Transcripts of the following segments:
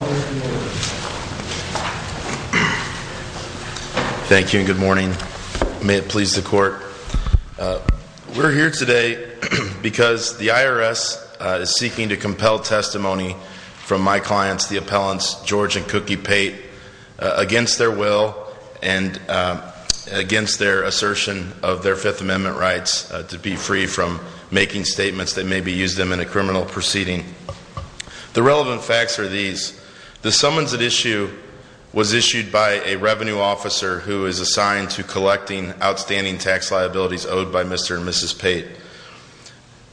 We're here today because the IRS is seeking to compel testimony from my clients, the appellants George and Cookie Pate, against their will and against their assertion of their Fifth Amendment rights to be free from making statements that may be used in a criminal proceeding. The relevant facts are these. The summons at issue was issued by a revenue officer who is assigned to collecting outstanding tax liabilities owed by Mr. and Mrs. Pate.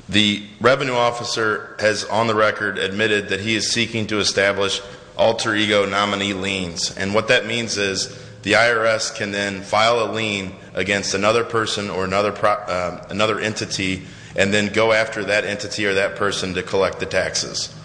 The revenue officer has on the record admitted that he is seeking to establish alter ego nominee liens. And what that means is the IRS can then file a lien against another person or another entity and then go after that entity or that person to collect the tax liabilities.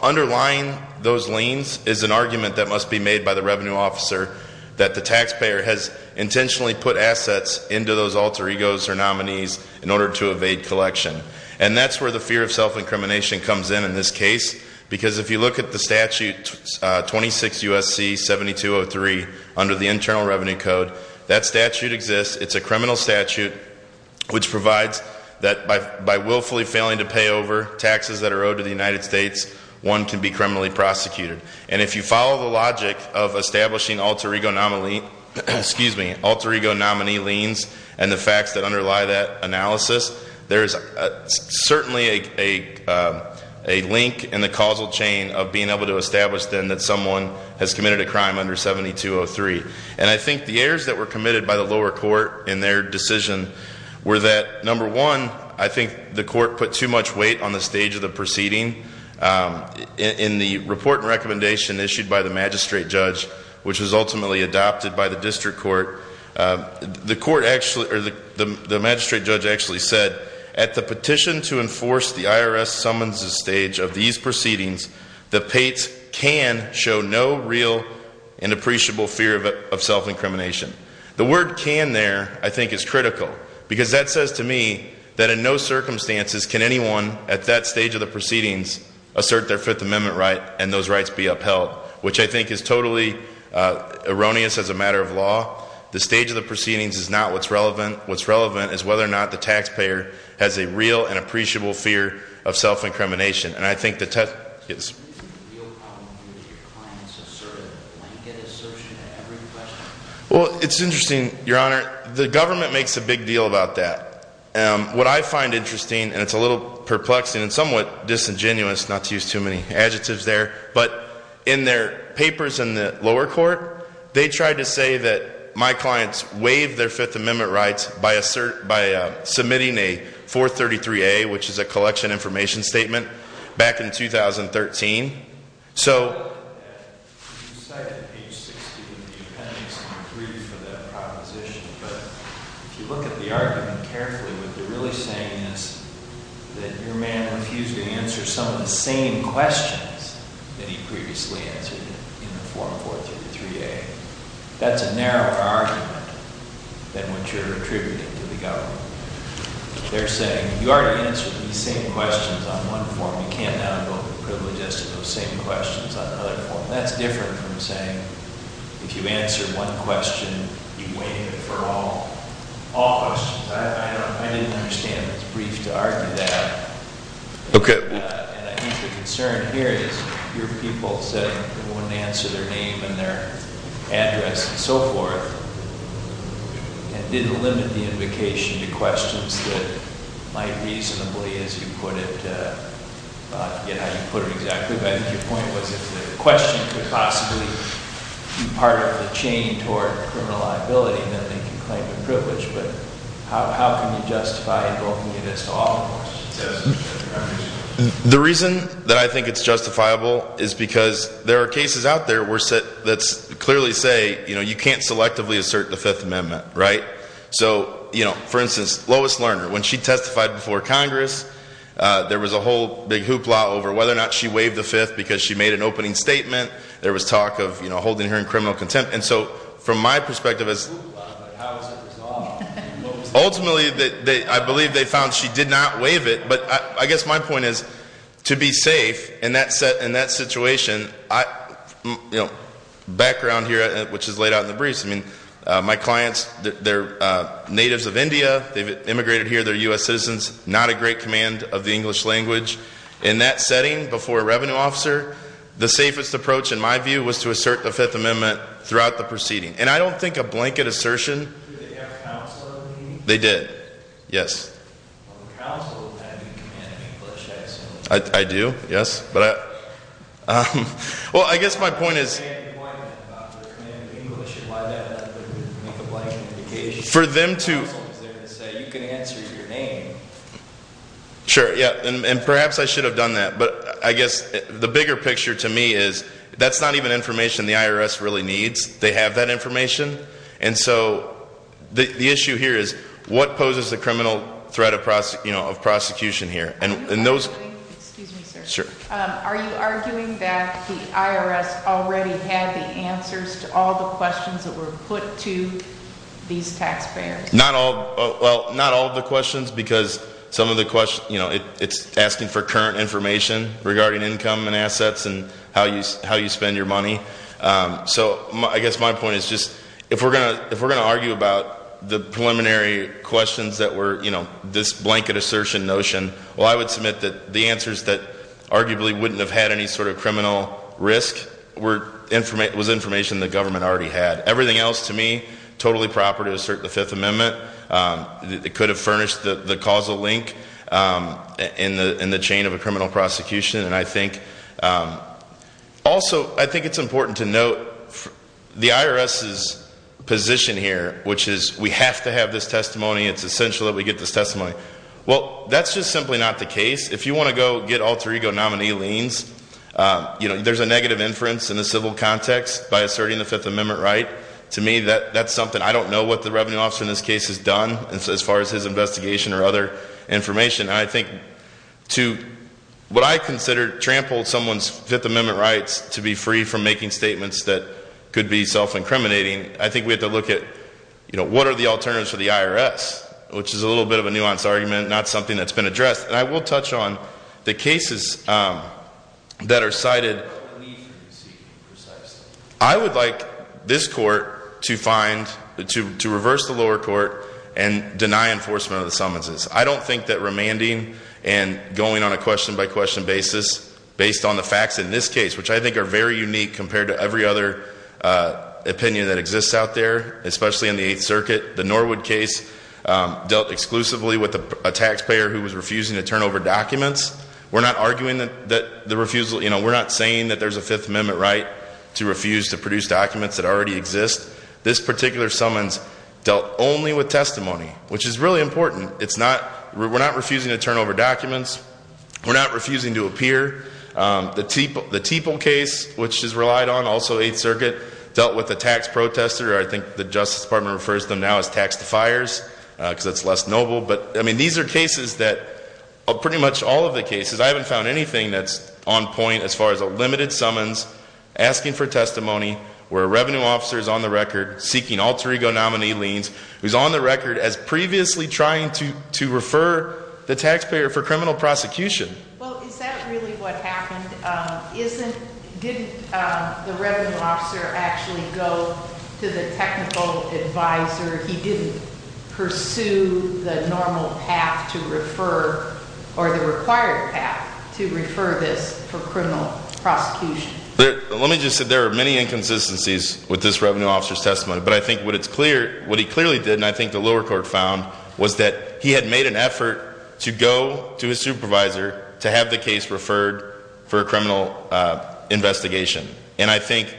Underlying those liens is an argument that must be made by the revenue officer that the taxpayer has intentionally put assets into those alter egos or nominees in order to evade collection. And that's where the fear of self-incrimination comes in, in this case, because if you look at the statute 26 U.S.C. 7203 under the Internal Revenue Code, that statute exists. It's a criminal statute which provides that by willfully failing to pay over taxes that are owed to the United States, one can be criminally prosecuted. And if you follow the logic of establishing alter ego nominee liens and the facts that underlie that analysis, there is certainly a link in the causal chain of being able to establish then that someone has committed a crime under 7203. And I think the errors that were committed by the lower court in their decision were that, number one, I think the court put too much weight on the stage of the proceeding in the report and recommendation issued by the magistrate judge, which was ultimately adopted by the district court. The magistrate judge actually said, at the petition to enforce the IRS summons stage of these proceedings, the pates can show no real and appreciable fear of self-incrimination. The word can there, I think, is critical. Because that says to me that in no circumstances can anyone at that stage of the proceedings assert their Fifth Amendment right and those rights be upheld, which I think is totally erroneous as a matter of law. The stage of the proceedings is not what's relevant. What's relevant is whether or not the taxpayer has a real and appreciable fear of self-incrimination. And I think the test is- Do you think the real problem would be if your clients asserted a blanket assertion at every question? Well, it's interesting, your honor. The government makes a big deal about that. What I find interesting, and it's a little perplexing and somewhat disingenuous, not to use too many adjectives there. But in their papers in the lower court, they tried to say that my clients waived their Fifth Amendment rights by submitting a 433A, which is a collection information statement, back in 2013. So- If you look at that, you cited page 16 of the appendix on 3 for that proposition. But if you look at the argument carefully, what they're really saying is that your man refused to answer some of the same questions that he previously answered in the form 433A. That's a narrower argument than what you're attributing to the government. They're saying, you already answered these same questions on one form. You can't now go and privilege us to those same questions on another form. That's different from saying, if you answer one question, you waive it for all questions. I don't know. I didn't understand that it's brief to argue that. Okay. And I think the concern here is your people saying they wouldn't answer their name and their address and so forth, and didn't limit the invocation to questions that might reasonably, as you put it, get how you put it exactly. But I think your point was, if the question could possibly be part of the chain toward criminal liability, then they could claim the privilege. But how can you justify invoking it as to all questions? The reason that I think it's justifiable is because there are cases out there that clearly say, you know, you can't selectively assert the Fifth Amendment, right? So, you know, for instance, Lois Lerner, when she testified before Congress, there was a whole big hoopla over whether or not she waived the Fifth because she made an opening statement. There was talk of, you know, holding her in criminal contempt. And so, from my perspective, ultimately, I believe they found she did not waive it. But I guess my point is, to be safe in that situation, you know, background here, which is laid out in the briefs, I mean, my clients, they're natives of India. They've immigrated here. They're U.S. citizens. Not a great command of the English language. In that setting, before a revenue officer, the safest approach, in my view, was to assert the Fifth Amendment throughout the proceeding. And I don't think a blanket assertion- Did they have counsel in the meeting? They did, yes. Counsel had the command of English, I assume. I do, yes. Well, I guess my point is- They had a point about the command of English and why that would make a blanket indication. For them to- Counsel was there to say, you can answer your name. Sure, yeah. And perhaps I should have done that. But I guess the bigger picture to me is, that's not even information the IRS really needs. They have that information. And so, the issue here is, what poses a criminal threat of prosecution here? Are you arguing- Excuse me, sir. Sure. Are you arguing that the IRS already had the answers to all the questions that were put to these taxpayers? Not all. Well, not all of the questions, because some of the questions, you know, it's asking for current information regarding income and assets and how you spend your money. So, I guess my point is just, if we're going to argue about the preliminary questions that were, you know, this blanket assertion notion, well, I would submit that the answers that arguably wouldn't have had any sort of criminal risk was information the government already had. Everything else, to me, totally proper to assert the Fifth Amendment. It could have furnished the causal link in the chain of a criminal prosecution. And I think, also, I think it's important to note the IRS's position here, which is, we have to have this testimony. It's essential that we get this testimony. Well, that's just simply not the case. If you want to go get alter ego nominee liens, you know, there's a negative inference in the civil context by asserting the Fifth Amendment right. To me, that's something, I don't know what the revenue officer in this case has done, as far as his investigation or other information. And I think, to what I consider trampled someone's Fifth Amendment rights to be free from making statements that could be self-incriminating, I think we have to look at, you know, what are the alternatives for the IRS? Which is a little bit of a nuanced argument, not something that's been addressed. And I will touch on the cases that are cited. I would like this court to find, to reverse the lower court and deny enforcement of the summonses. I don't think that remanding and going on a question-by-question basis, based on the facts in this case, which I think are very unique compared to every other opinion that exists out there, especially in the Eighth Circuit, the Norwood case dealt exclusively with a taxpayer who was refusing to turn over documents. We're not arguing that the refusal, you know, we're not saying that there's a Fifth Amendment right to refuse to produce documents that already exist. This particular summons dealt only with testimony, which is really important. It's not, we're not refusing to turn over documents. We're not refusing to appear. The Teeple case, which is relied on, also Eighth Circuit, dealt with a tax protester. I think the Justice Department refers to them now as tax defiers, because it's less noble. But, I mean, these are cases that, pretty much all of the cases, I haven't found anything that's on point as far as a limited summons, asking for testimony, where a revenue officer is on the record, seeking alter ego nominee liens, who's on the record as previously trying to refer the taxpayer for criminal prosecution. Well, is that really what happened? Didn't the revenue officer actually go to the technical advisor? He didn't pursue the normal path to refer, or the required path to refer this for criminal prosecution? Let me just say, there are many inconsistencies with this revenue officer's testimony. But I think what he clearly did, and I think the lower court found, was that he had made an effort to go to his supervisor to have the case referred for a criminal investigation. And I think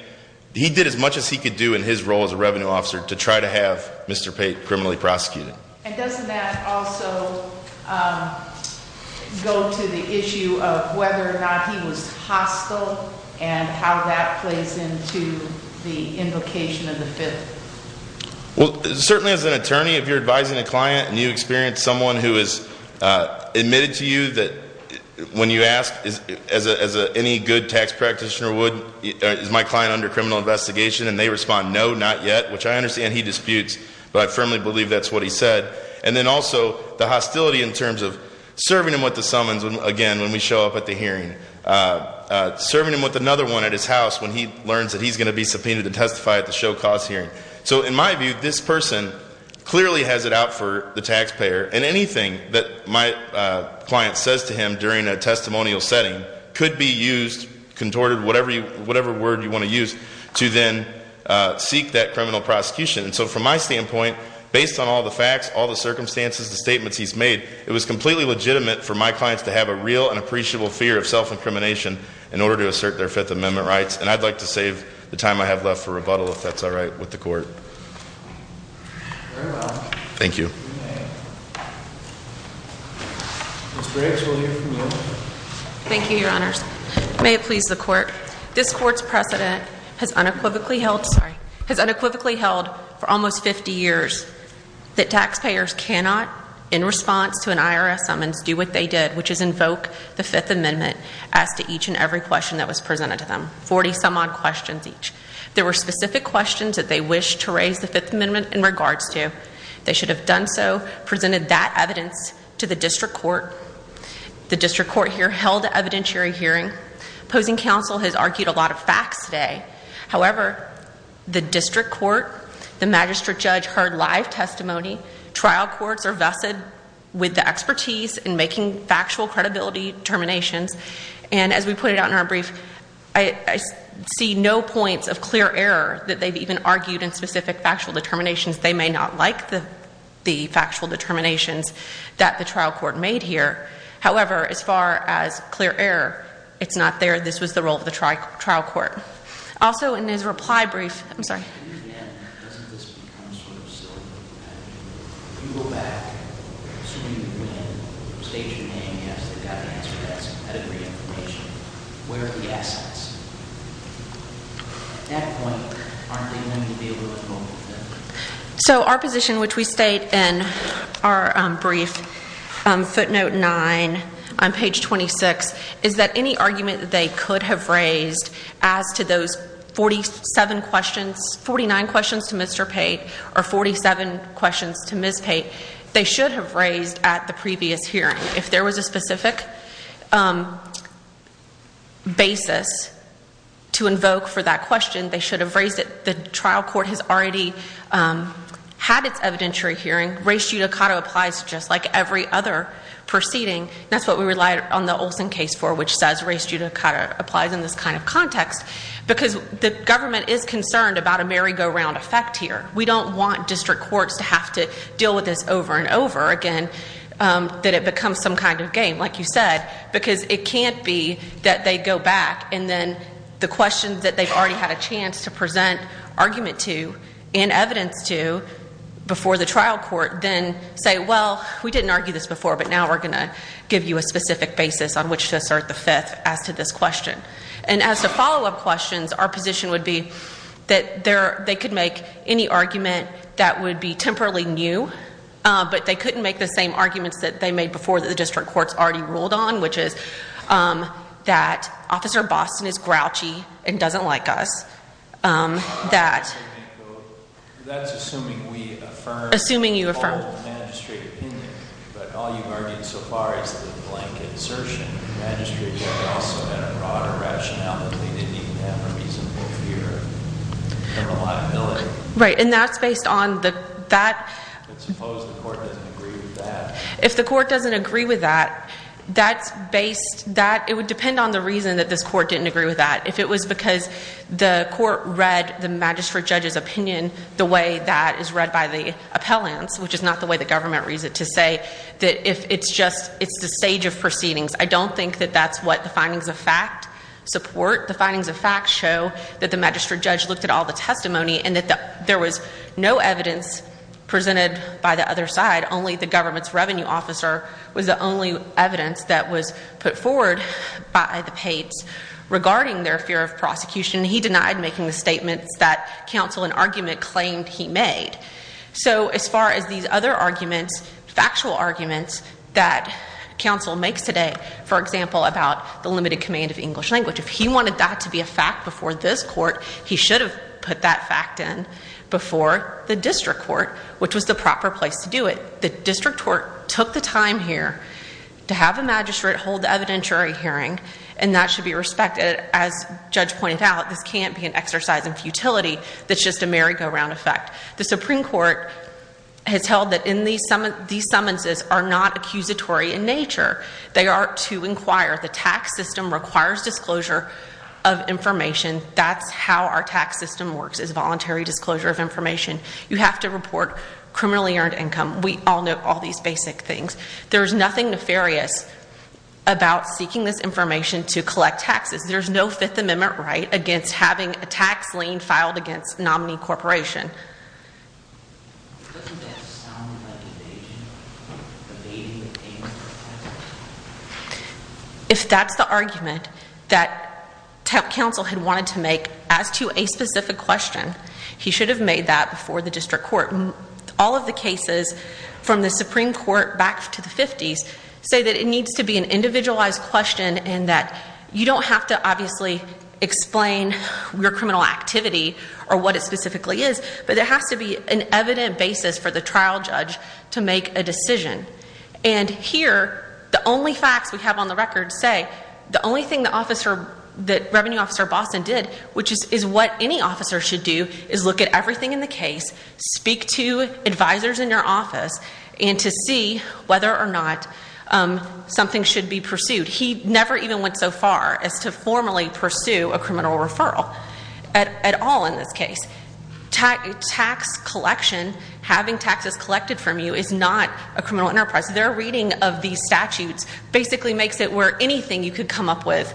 he did as much as he could do in his role as a revenue officer to try to have Mr. Pate criminally prosecuted. And doesn't that also go to the issue of whether or not he was hostile, and how that plays into the invocation of the Fifth? Well, certainly as an attorney, if you're advising a client and you experience someone who has admitted to you that when you ask, as any good tax practitioner would, is my client under criminal investigation? And they respond, no, not yet, which I understand he disputes. But I firmly believe that's what he said. And then also, the hostility in terms of serving him with the summons, again, when we show up at the hearing, serving him with another one at his house when he learns that he's going to be subpoenaed to testify at the show cause hearing. So in my view, this person clearly has it out for the taxpayer. And anything that my client says to him during a testimonial setting could be used, contorted, whatever word you want to use, to then seek that criminal prosecution. And so from my standpoint, based on all the facts, all the circumstances, the statements he's made, it was completely legitimate for my clients to have a real and appreciable fear of self-incrimination in order to assert their Fifth Amendment rights. And I'd like to save the time I have left for rebuttal, if that's all right with the court. Thank you. Thank you, Your Honors. May it please the court. This court's precedent has unequivocally held, sorry, has unequivocally held for almost 50 years that taxpayers cannot, in response to an IRS summons, do what they did, which is invoke the Fifth Amendment as to each and every question that was presented to them, 40-some-odd questions each. There were specific questions that they wished to raise the Fifth Amendment in regards to. They should have done so, presented that evidence to the district court. The district court here held an evidentiary hearing. Opposing counsel has argued a lot of facts today. However, the district court, the magistrate judge heard live testimony. Trial courts are vested with the expertise in making factual credibility determinations. And as we put it out in our brief, I see no points of clear error that they've even argued in specific factual determinations. They may not like the factual determinations that the trial court made here. However, as far as clear error, it's not there. This was the role of the trial court. Also, in his reply brief, I'm sorry. Can you again, doesn't this become sort of silly, if you go back to when, state your name, yes, they've got to answer that, some pedigree information, where are the assets? At that point, aren't they going to be able to come up with that? So our position, which we state in our brief, footnote 9 on page 26, is that any argument they could have raised as to those 47 questions, 49 questions to Mr. Pate or 47 questions to Ms. Pate, they should have raised at the previous hearing. If there was a specific basis to invoke for that question, they should have raised it. The trial court has already had its evidentiary hearing. Race judicata applies just like every other proceeding. That's what we relied on the Olson case for, which says race judicata applies in this kind of context, because the government is concerned about a merry-go-round effect here. We don't want district courts to have to deal with this over and over again, that it becomes some kind of game, like you said, because it can't be that they go back and then the questions that they've already had a chance to present argument to and evidence to before the trial court then say, well, we didn't argue this before, but now we're going to give you a specific basis on which to assert the fifth as to this question. And as to follow-up questions, our position would be that they could make any argument that would be temporally new, but they couldn't make the same arguments that they made before that the district courts already ruled on, which is that Officer Boston is grouchy and doesn't like us, that- As far as the blanket assertion, the magistrate judge also had a broader rationale that they didn't even have a reasonable fear of a liability. Right, and that's based on the- But suppose the court doesn't agree with that. If the court doesn't agree with that, that's based, that, it would depend on the reason that this court didn't agree with that. If it was because the court read the magistrate judge's opinion the way that is read by the government reason to say that if it's just, it's the stage of proceedings, I don't think that that's what the findings of fact support. The findings of fact show that the magistrate judge looked at all the testimony and that there was no evidence presented by the other side, only the government's revenue officer was the only evidence that was put forward by the Pates regarding their fear of prosecution. He denied making the statements that counsel and argument claimed he made. So as far as these other arguments, factual arguments that counsel makes today, for example, about the limited command of English language, if he wanted that to be a fact before this court, he should have put that fact in before the district court, which was the proper place to do it. The district court took the time here to have a magistrate hold the evidentiary hearing and that should be respected. As Judge pointed out, this can't be an exercise in futility that's just a merry-go-round effect. The Supreme Court has held that these summonses are not accusatory in nature. They are to inquire. The tax system requires disclosure of information. That's how our tax system works, is voluntary disclosure of information. You have to report criminally earned income. We all know all these basic things. There's nothing nefarious about seeking this information to collect taxes. There's no Fifth Amendment right against having a tax lien filed against a nominee corporation. If that's the argument that counsel had wanted to make as to a specific question, he should have made that before the district court. All of the cases from the Supreme Court back to the 50s say that it needs to be an individualized question and that you don't have to obviously explain your criminal activity or what it specifically is, but there has to be an evident basis for the trial judge to make a decision. And here, the only facts we have on the record say the only thing that Revenue Officer Boston did, which is what any officer should do, is look at everything in the case, speak to advisors in your office, and to see whether or not something should be pursued. He never even went so far as to formally pursue a criminal referral at all in this case. Tax collection, having taxes collected from you, is not a criminal enterprise. Their reading of these statutes basically makes it where anything you could come up with.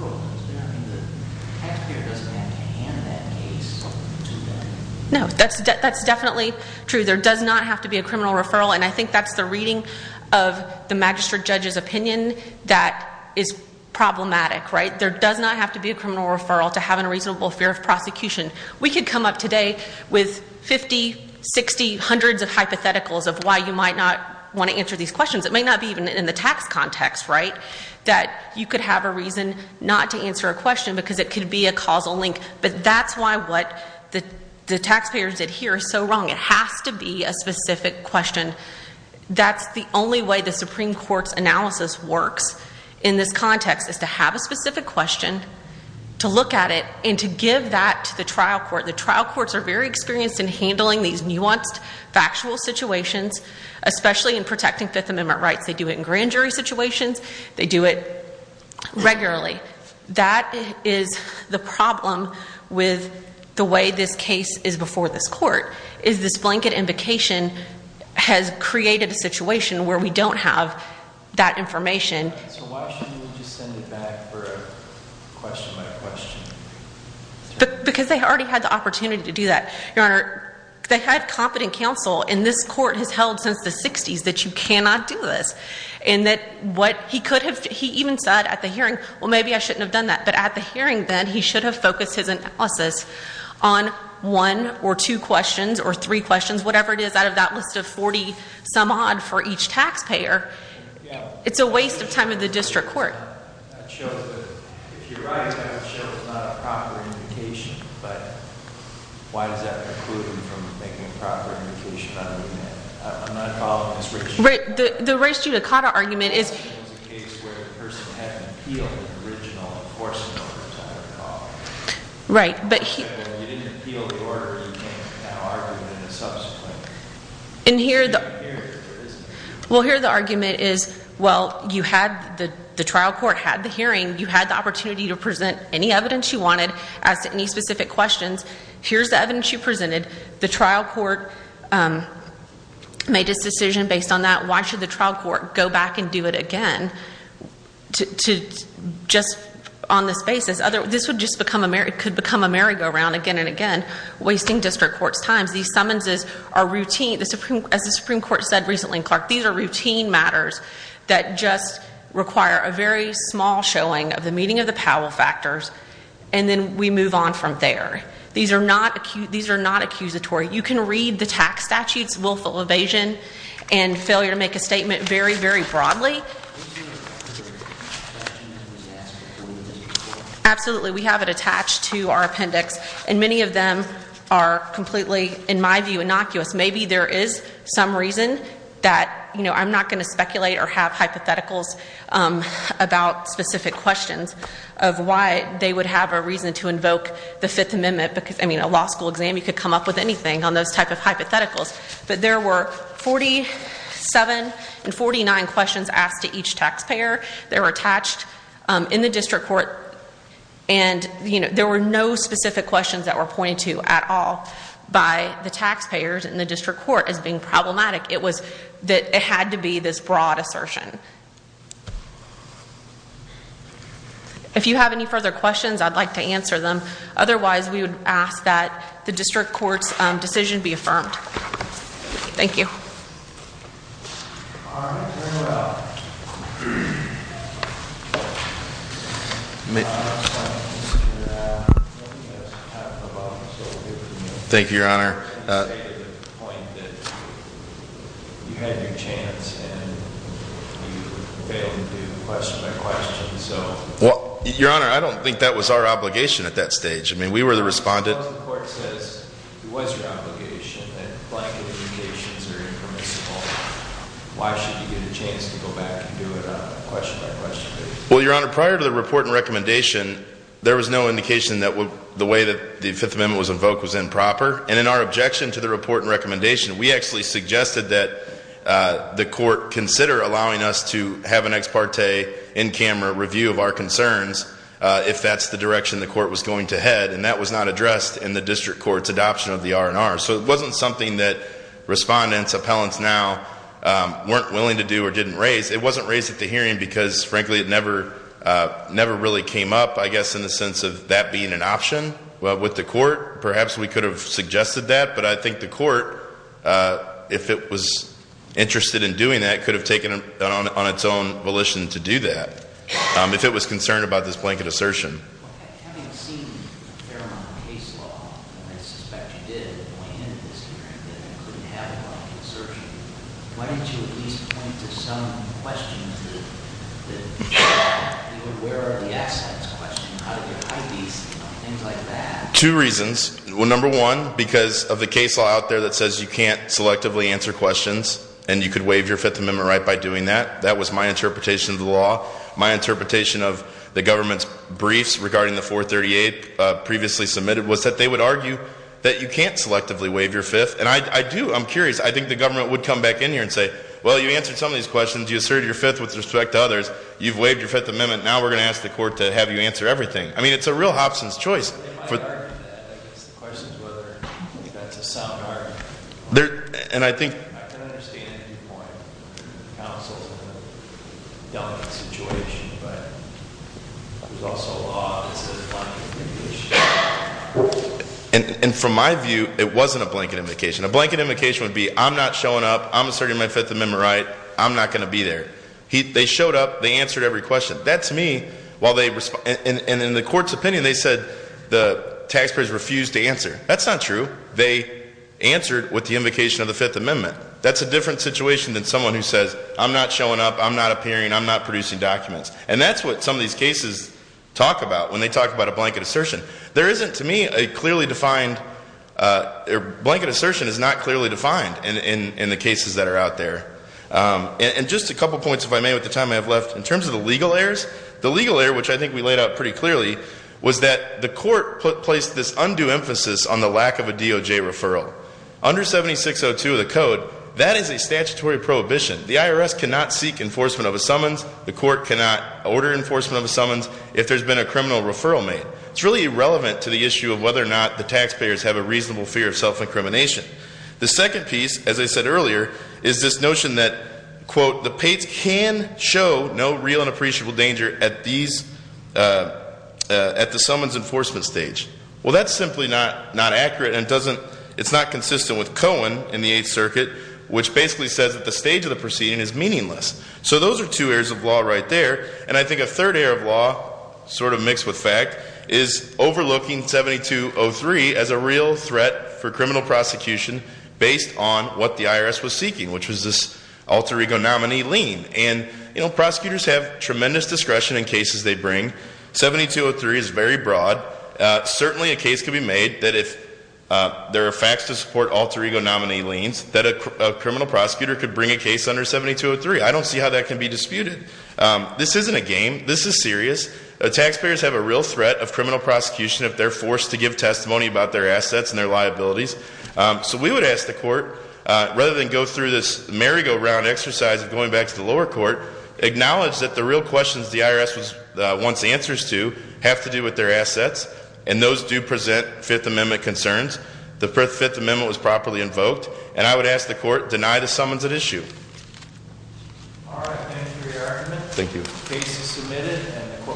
But it doesn't have to be a criminal referral, does it? I mean, the taxpayer doesn't have to hand that case to them. No, that's definitely true. There does not have to be a criminal referral, and I think that's the reading of the magistrate judge's opinion that is problematic, right? There does not have to be a criminal referral to have a reasonable fear of prosecution. We could come up today with 50, 60, hundreds of hypotheticals of why you might not want to answer these questions. It might not be even in the tax context, right, that you could have a reason not to answer a question because it could be a causal link. But that's why what the taxpayers did here is so wrong. It has to be a specific question. That's the only way the Supreme Court's analysis works in this context, is to have a specific question, to look at it, and to give that to the trial court. The trial courts are very experienced in handling these nuanced, factual situations, especially in protecting Fifth Amendment rights. They do it in grand jury situations. They do it regularly. That is the problem with the way this case is before this court, is this blanket invocation has created a situation where we don't have that information. So why shouldn't we just send it back for a question by question? Because they already had the opportunity to do that. Your Honor, they had competent counsel, and this court has held since the 60s that you cannot do this. He even said at the hearing, well, maybe I shouldn't have done that. But at the hearing, then, he should have focused his analysis on one or two questions or three questions, whatever it is, out of that list of 40-some-odd for each taxpayer. It's a waste of time in the district court. That shows that, if you're right, that shows not a proper invocation. But why does that preclude him from making a proper invocation on remand? I'm not following this race judicata. The race judicata argument is— It was a case where the person hadn't appealed the original enforcement order, as I recall. Right, but he— You didn't appeal the order. You can't now argue it in a subsequent hearing, or is it? Well, here, the argument is, well, you had—the trial court had the hearing. You had the opportunity to present any evidence you wanted, ask any specific questions. Here's the evidence you presented. The trial court made its decision based on that. Why should the trial court go back and do it again, just on this basis? This would just become a—could become a merry-go-round again and again, wasting district court's time. These summonses are routine—as the Supreme Court said recently in Clark, these are routine matters that just require a very small showing of the meeting of the Powell factors, and then we move on from there. These are not—these are not accusatory. You can read the tax statutes, willful evasion, and failure to make a statement, very, very broadly. Absolutely, we have it attached to our appendix. And many of them are completely, in my view, innocuous. Maybe there is some reason that, you know, I'm not going to speculate or have hypotheticals about specific questions of why they would have a reason to invoke the Fifth Amendment because, I mean, a law school exam, you could come up with anything on those type of hypotheticals. But there were 47 and 49 questions asked to each taxpayer. They were attached in the district court, and, you know, there were no specific questions that were pointed to at all by the taxpayers in the district court as being problematic. It was that it had to be this broad assertion. If you have any further questions, I'd like to answer them. Otherwise, we would ask that the district court's decision be affirmed. Thank you. Thank you, Your Honor. Well, Your Honor, I don't think that was our obligation at that stage. I mean, we were the respondent. Well, Your Honor, prior to the report and recommendation, there was no indication that the way that the Fifth Amendment was invoked was improper. And in our objection to the report and recommendation, we actually suggested that the court consider allowing us to have an ex parte, in-camera review of our concerns if that's the direction the court was going to head. And that was not addressed in the district court's adoption of the R&R. So it wasn't something that respondents, appellants now weren't willing to do or didn't raise. It wasn't raised at the hearing because, frankly, it never really came up, I guess, in the sense of that being an option with the court. Perhaps we could have suggested that. But I think the court, if it was interested in doing that, could have taken it on its own volition to do that if it was concerned about this blanket assertion. Having seen a fair amount of case law, and I suspect you did, that went into this hearing that included having a blanket assertion, why don't you at least point to some questions that you were aware of the accidents question, how did you hide these, things like that? Two reasons. Number one, because of the case law out there that says you can't selectively answer questions and you could waive your Fifth Amendment right by doing that. That was my interpretation of the law. My interpretation of the government's briefs regarding the 438 previously submitted was that they would argue that you can't selectively waive your Fifth. And I do. I'm curious. I think the government would come back in here and say, well, you answered some of these questions. You asserted your Fifth with respect to others. You've waived your Fifth Amendment. Now we're going to ask the court to have you answer everything. I mean, it's a real Hobson's choice. They might argue that. I guess the question is whether that's a sound argument. And I think- I can understand your point. The council's in a delicate situation, but there's also a law that says blanket indication. And from my view, it wasn't a blanket indication. A blanket indication would be, I'm not showing up. I'm asserting my Fifth Amendment right. I'm not going to be there. They showed up. They answered every question. That, to me, while they- and in the court's opinion, they said the taxpayers refused to answer. That's not true. They answered with the invocation of the Fifth Amendment. That's a different situation than someone who says, I'm not showing up. I'm not appearing. I'm not producing documents. And that's what some of these cases talk about when they talk about a blanket assertion. There isn't, to me, a clearly defined- blanket assertion is not clearly defined in the cases that are out there. And just a couple points, if I may, with the time I have left. In terms of the legal errors, the legal error, which I think we laid out pretty clearly, was that the court placed this undue emphasis on the lack of a DOJ referral. Under 7602 of the code, that is a statutory prohibition. The IRS cannot seek enforcement of a summons. The court cannot order enforcement of a summons if there's been a criminal referral made. It's really irrelevant to the issue of whether or not the taxpayers have a reasonable fear of self-incrimination. The second piece, as I said earlier, is this notion that, quote, the pates can show no real and appreciable danger at the summons enforcement stage. Well, that's simply not accurate. And it's not consistent with Cohen in the Eighth Circuit, which basically says that the stage of the proceeding is meaningless. So those are two areas of law right there. And I think a third area of law, sort of mixed with fact, is overlooking 7203 as a real threat for criminal prosecution based on what the IRS was seeking, which was this alter ego nominee lien. And prosecutors have tremendous discretion in cases they bring. 7203 is very broad. Certainly, a case could be made that if there are facts to support alter ego nominee liens, that a criminal prosecutor could bring a case under 7203. I don't see how that can be disputed. This isn't a game. This is serious. Taxpayers have a real threat of criminal prosecution if they're forced to give testimony about their assets and their liabilities. So we would ask the court, rather than go through this merry-go-round exercise of going back to the lower court, acknowledge that the real questions the IRS wants answers to have to do with their assets. And those do present Fifth Amendment concerns. The Fifth Amendment was properly invoked. And I would ask the court, deny the summons at issue. All right. Thank you for your argument. Thank you. Case is submitted. And the court will follow the opinion of the three courts.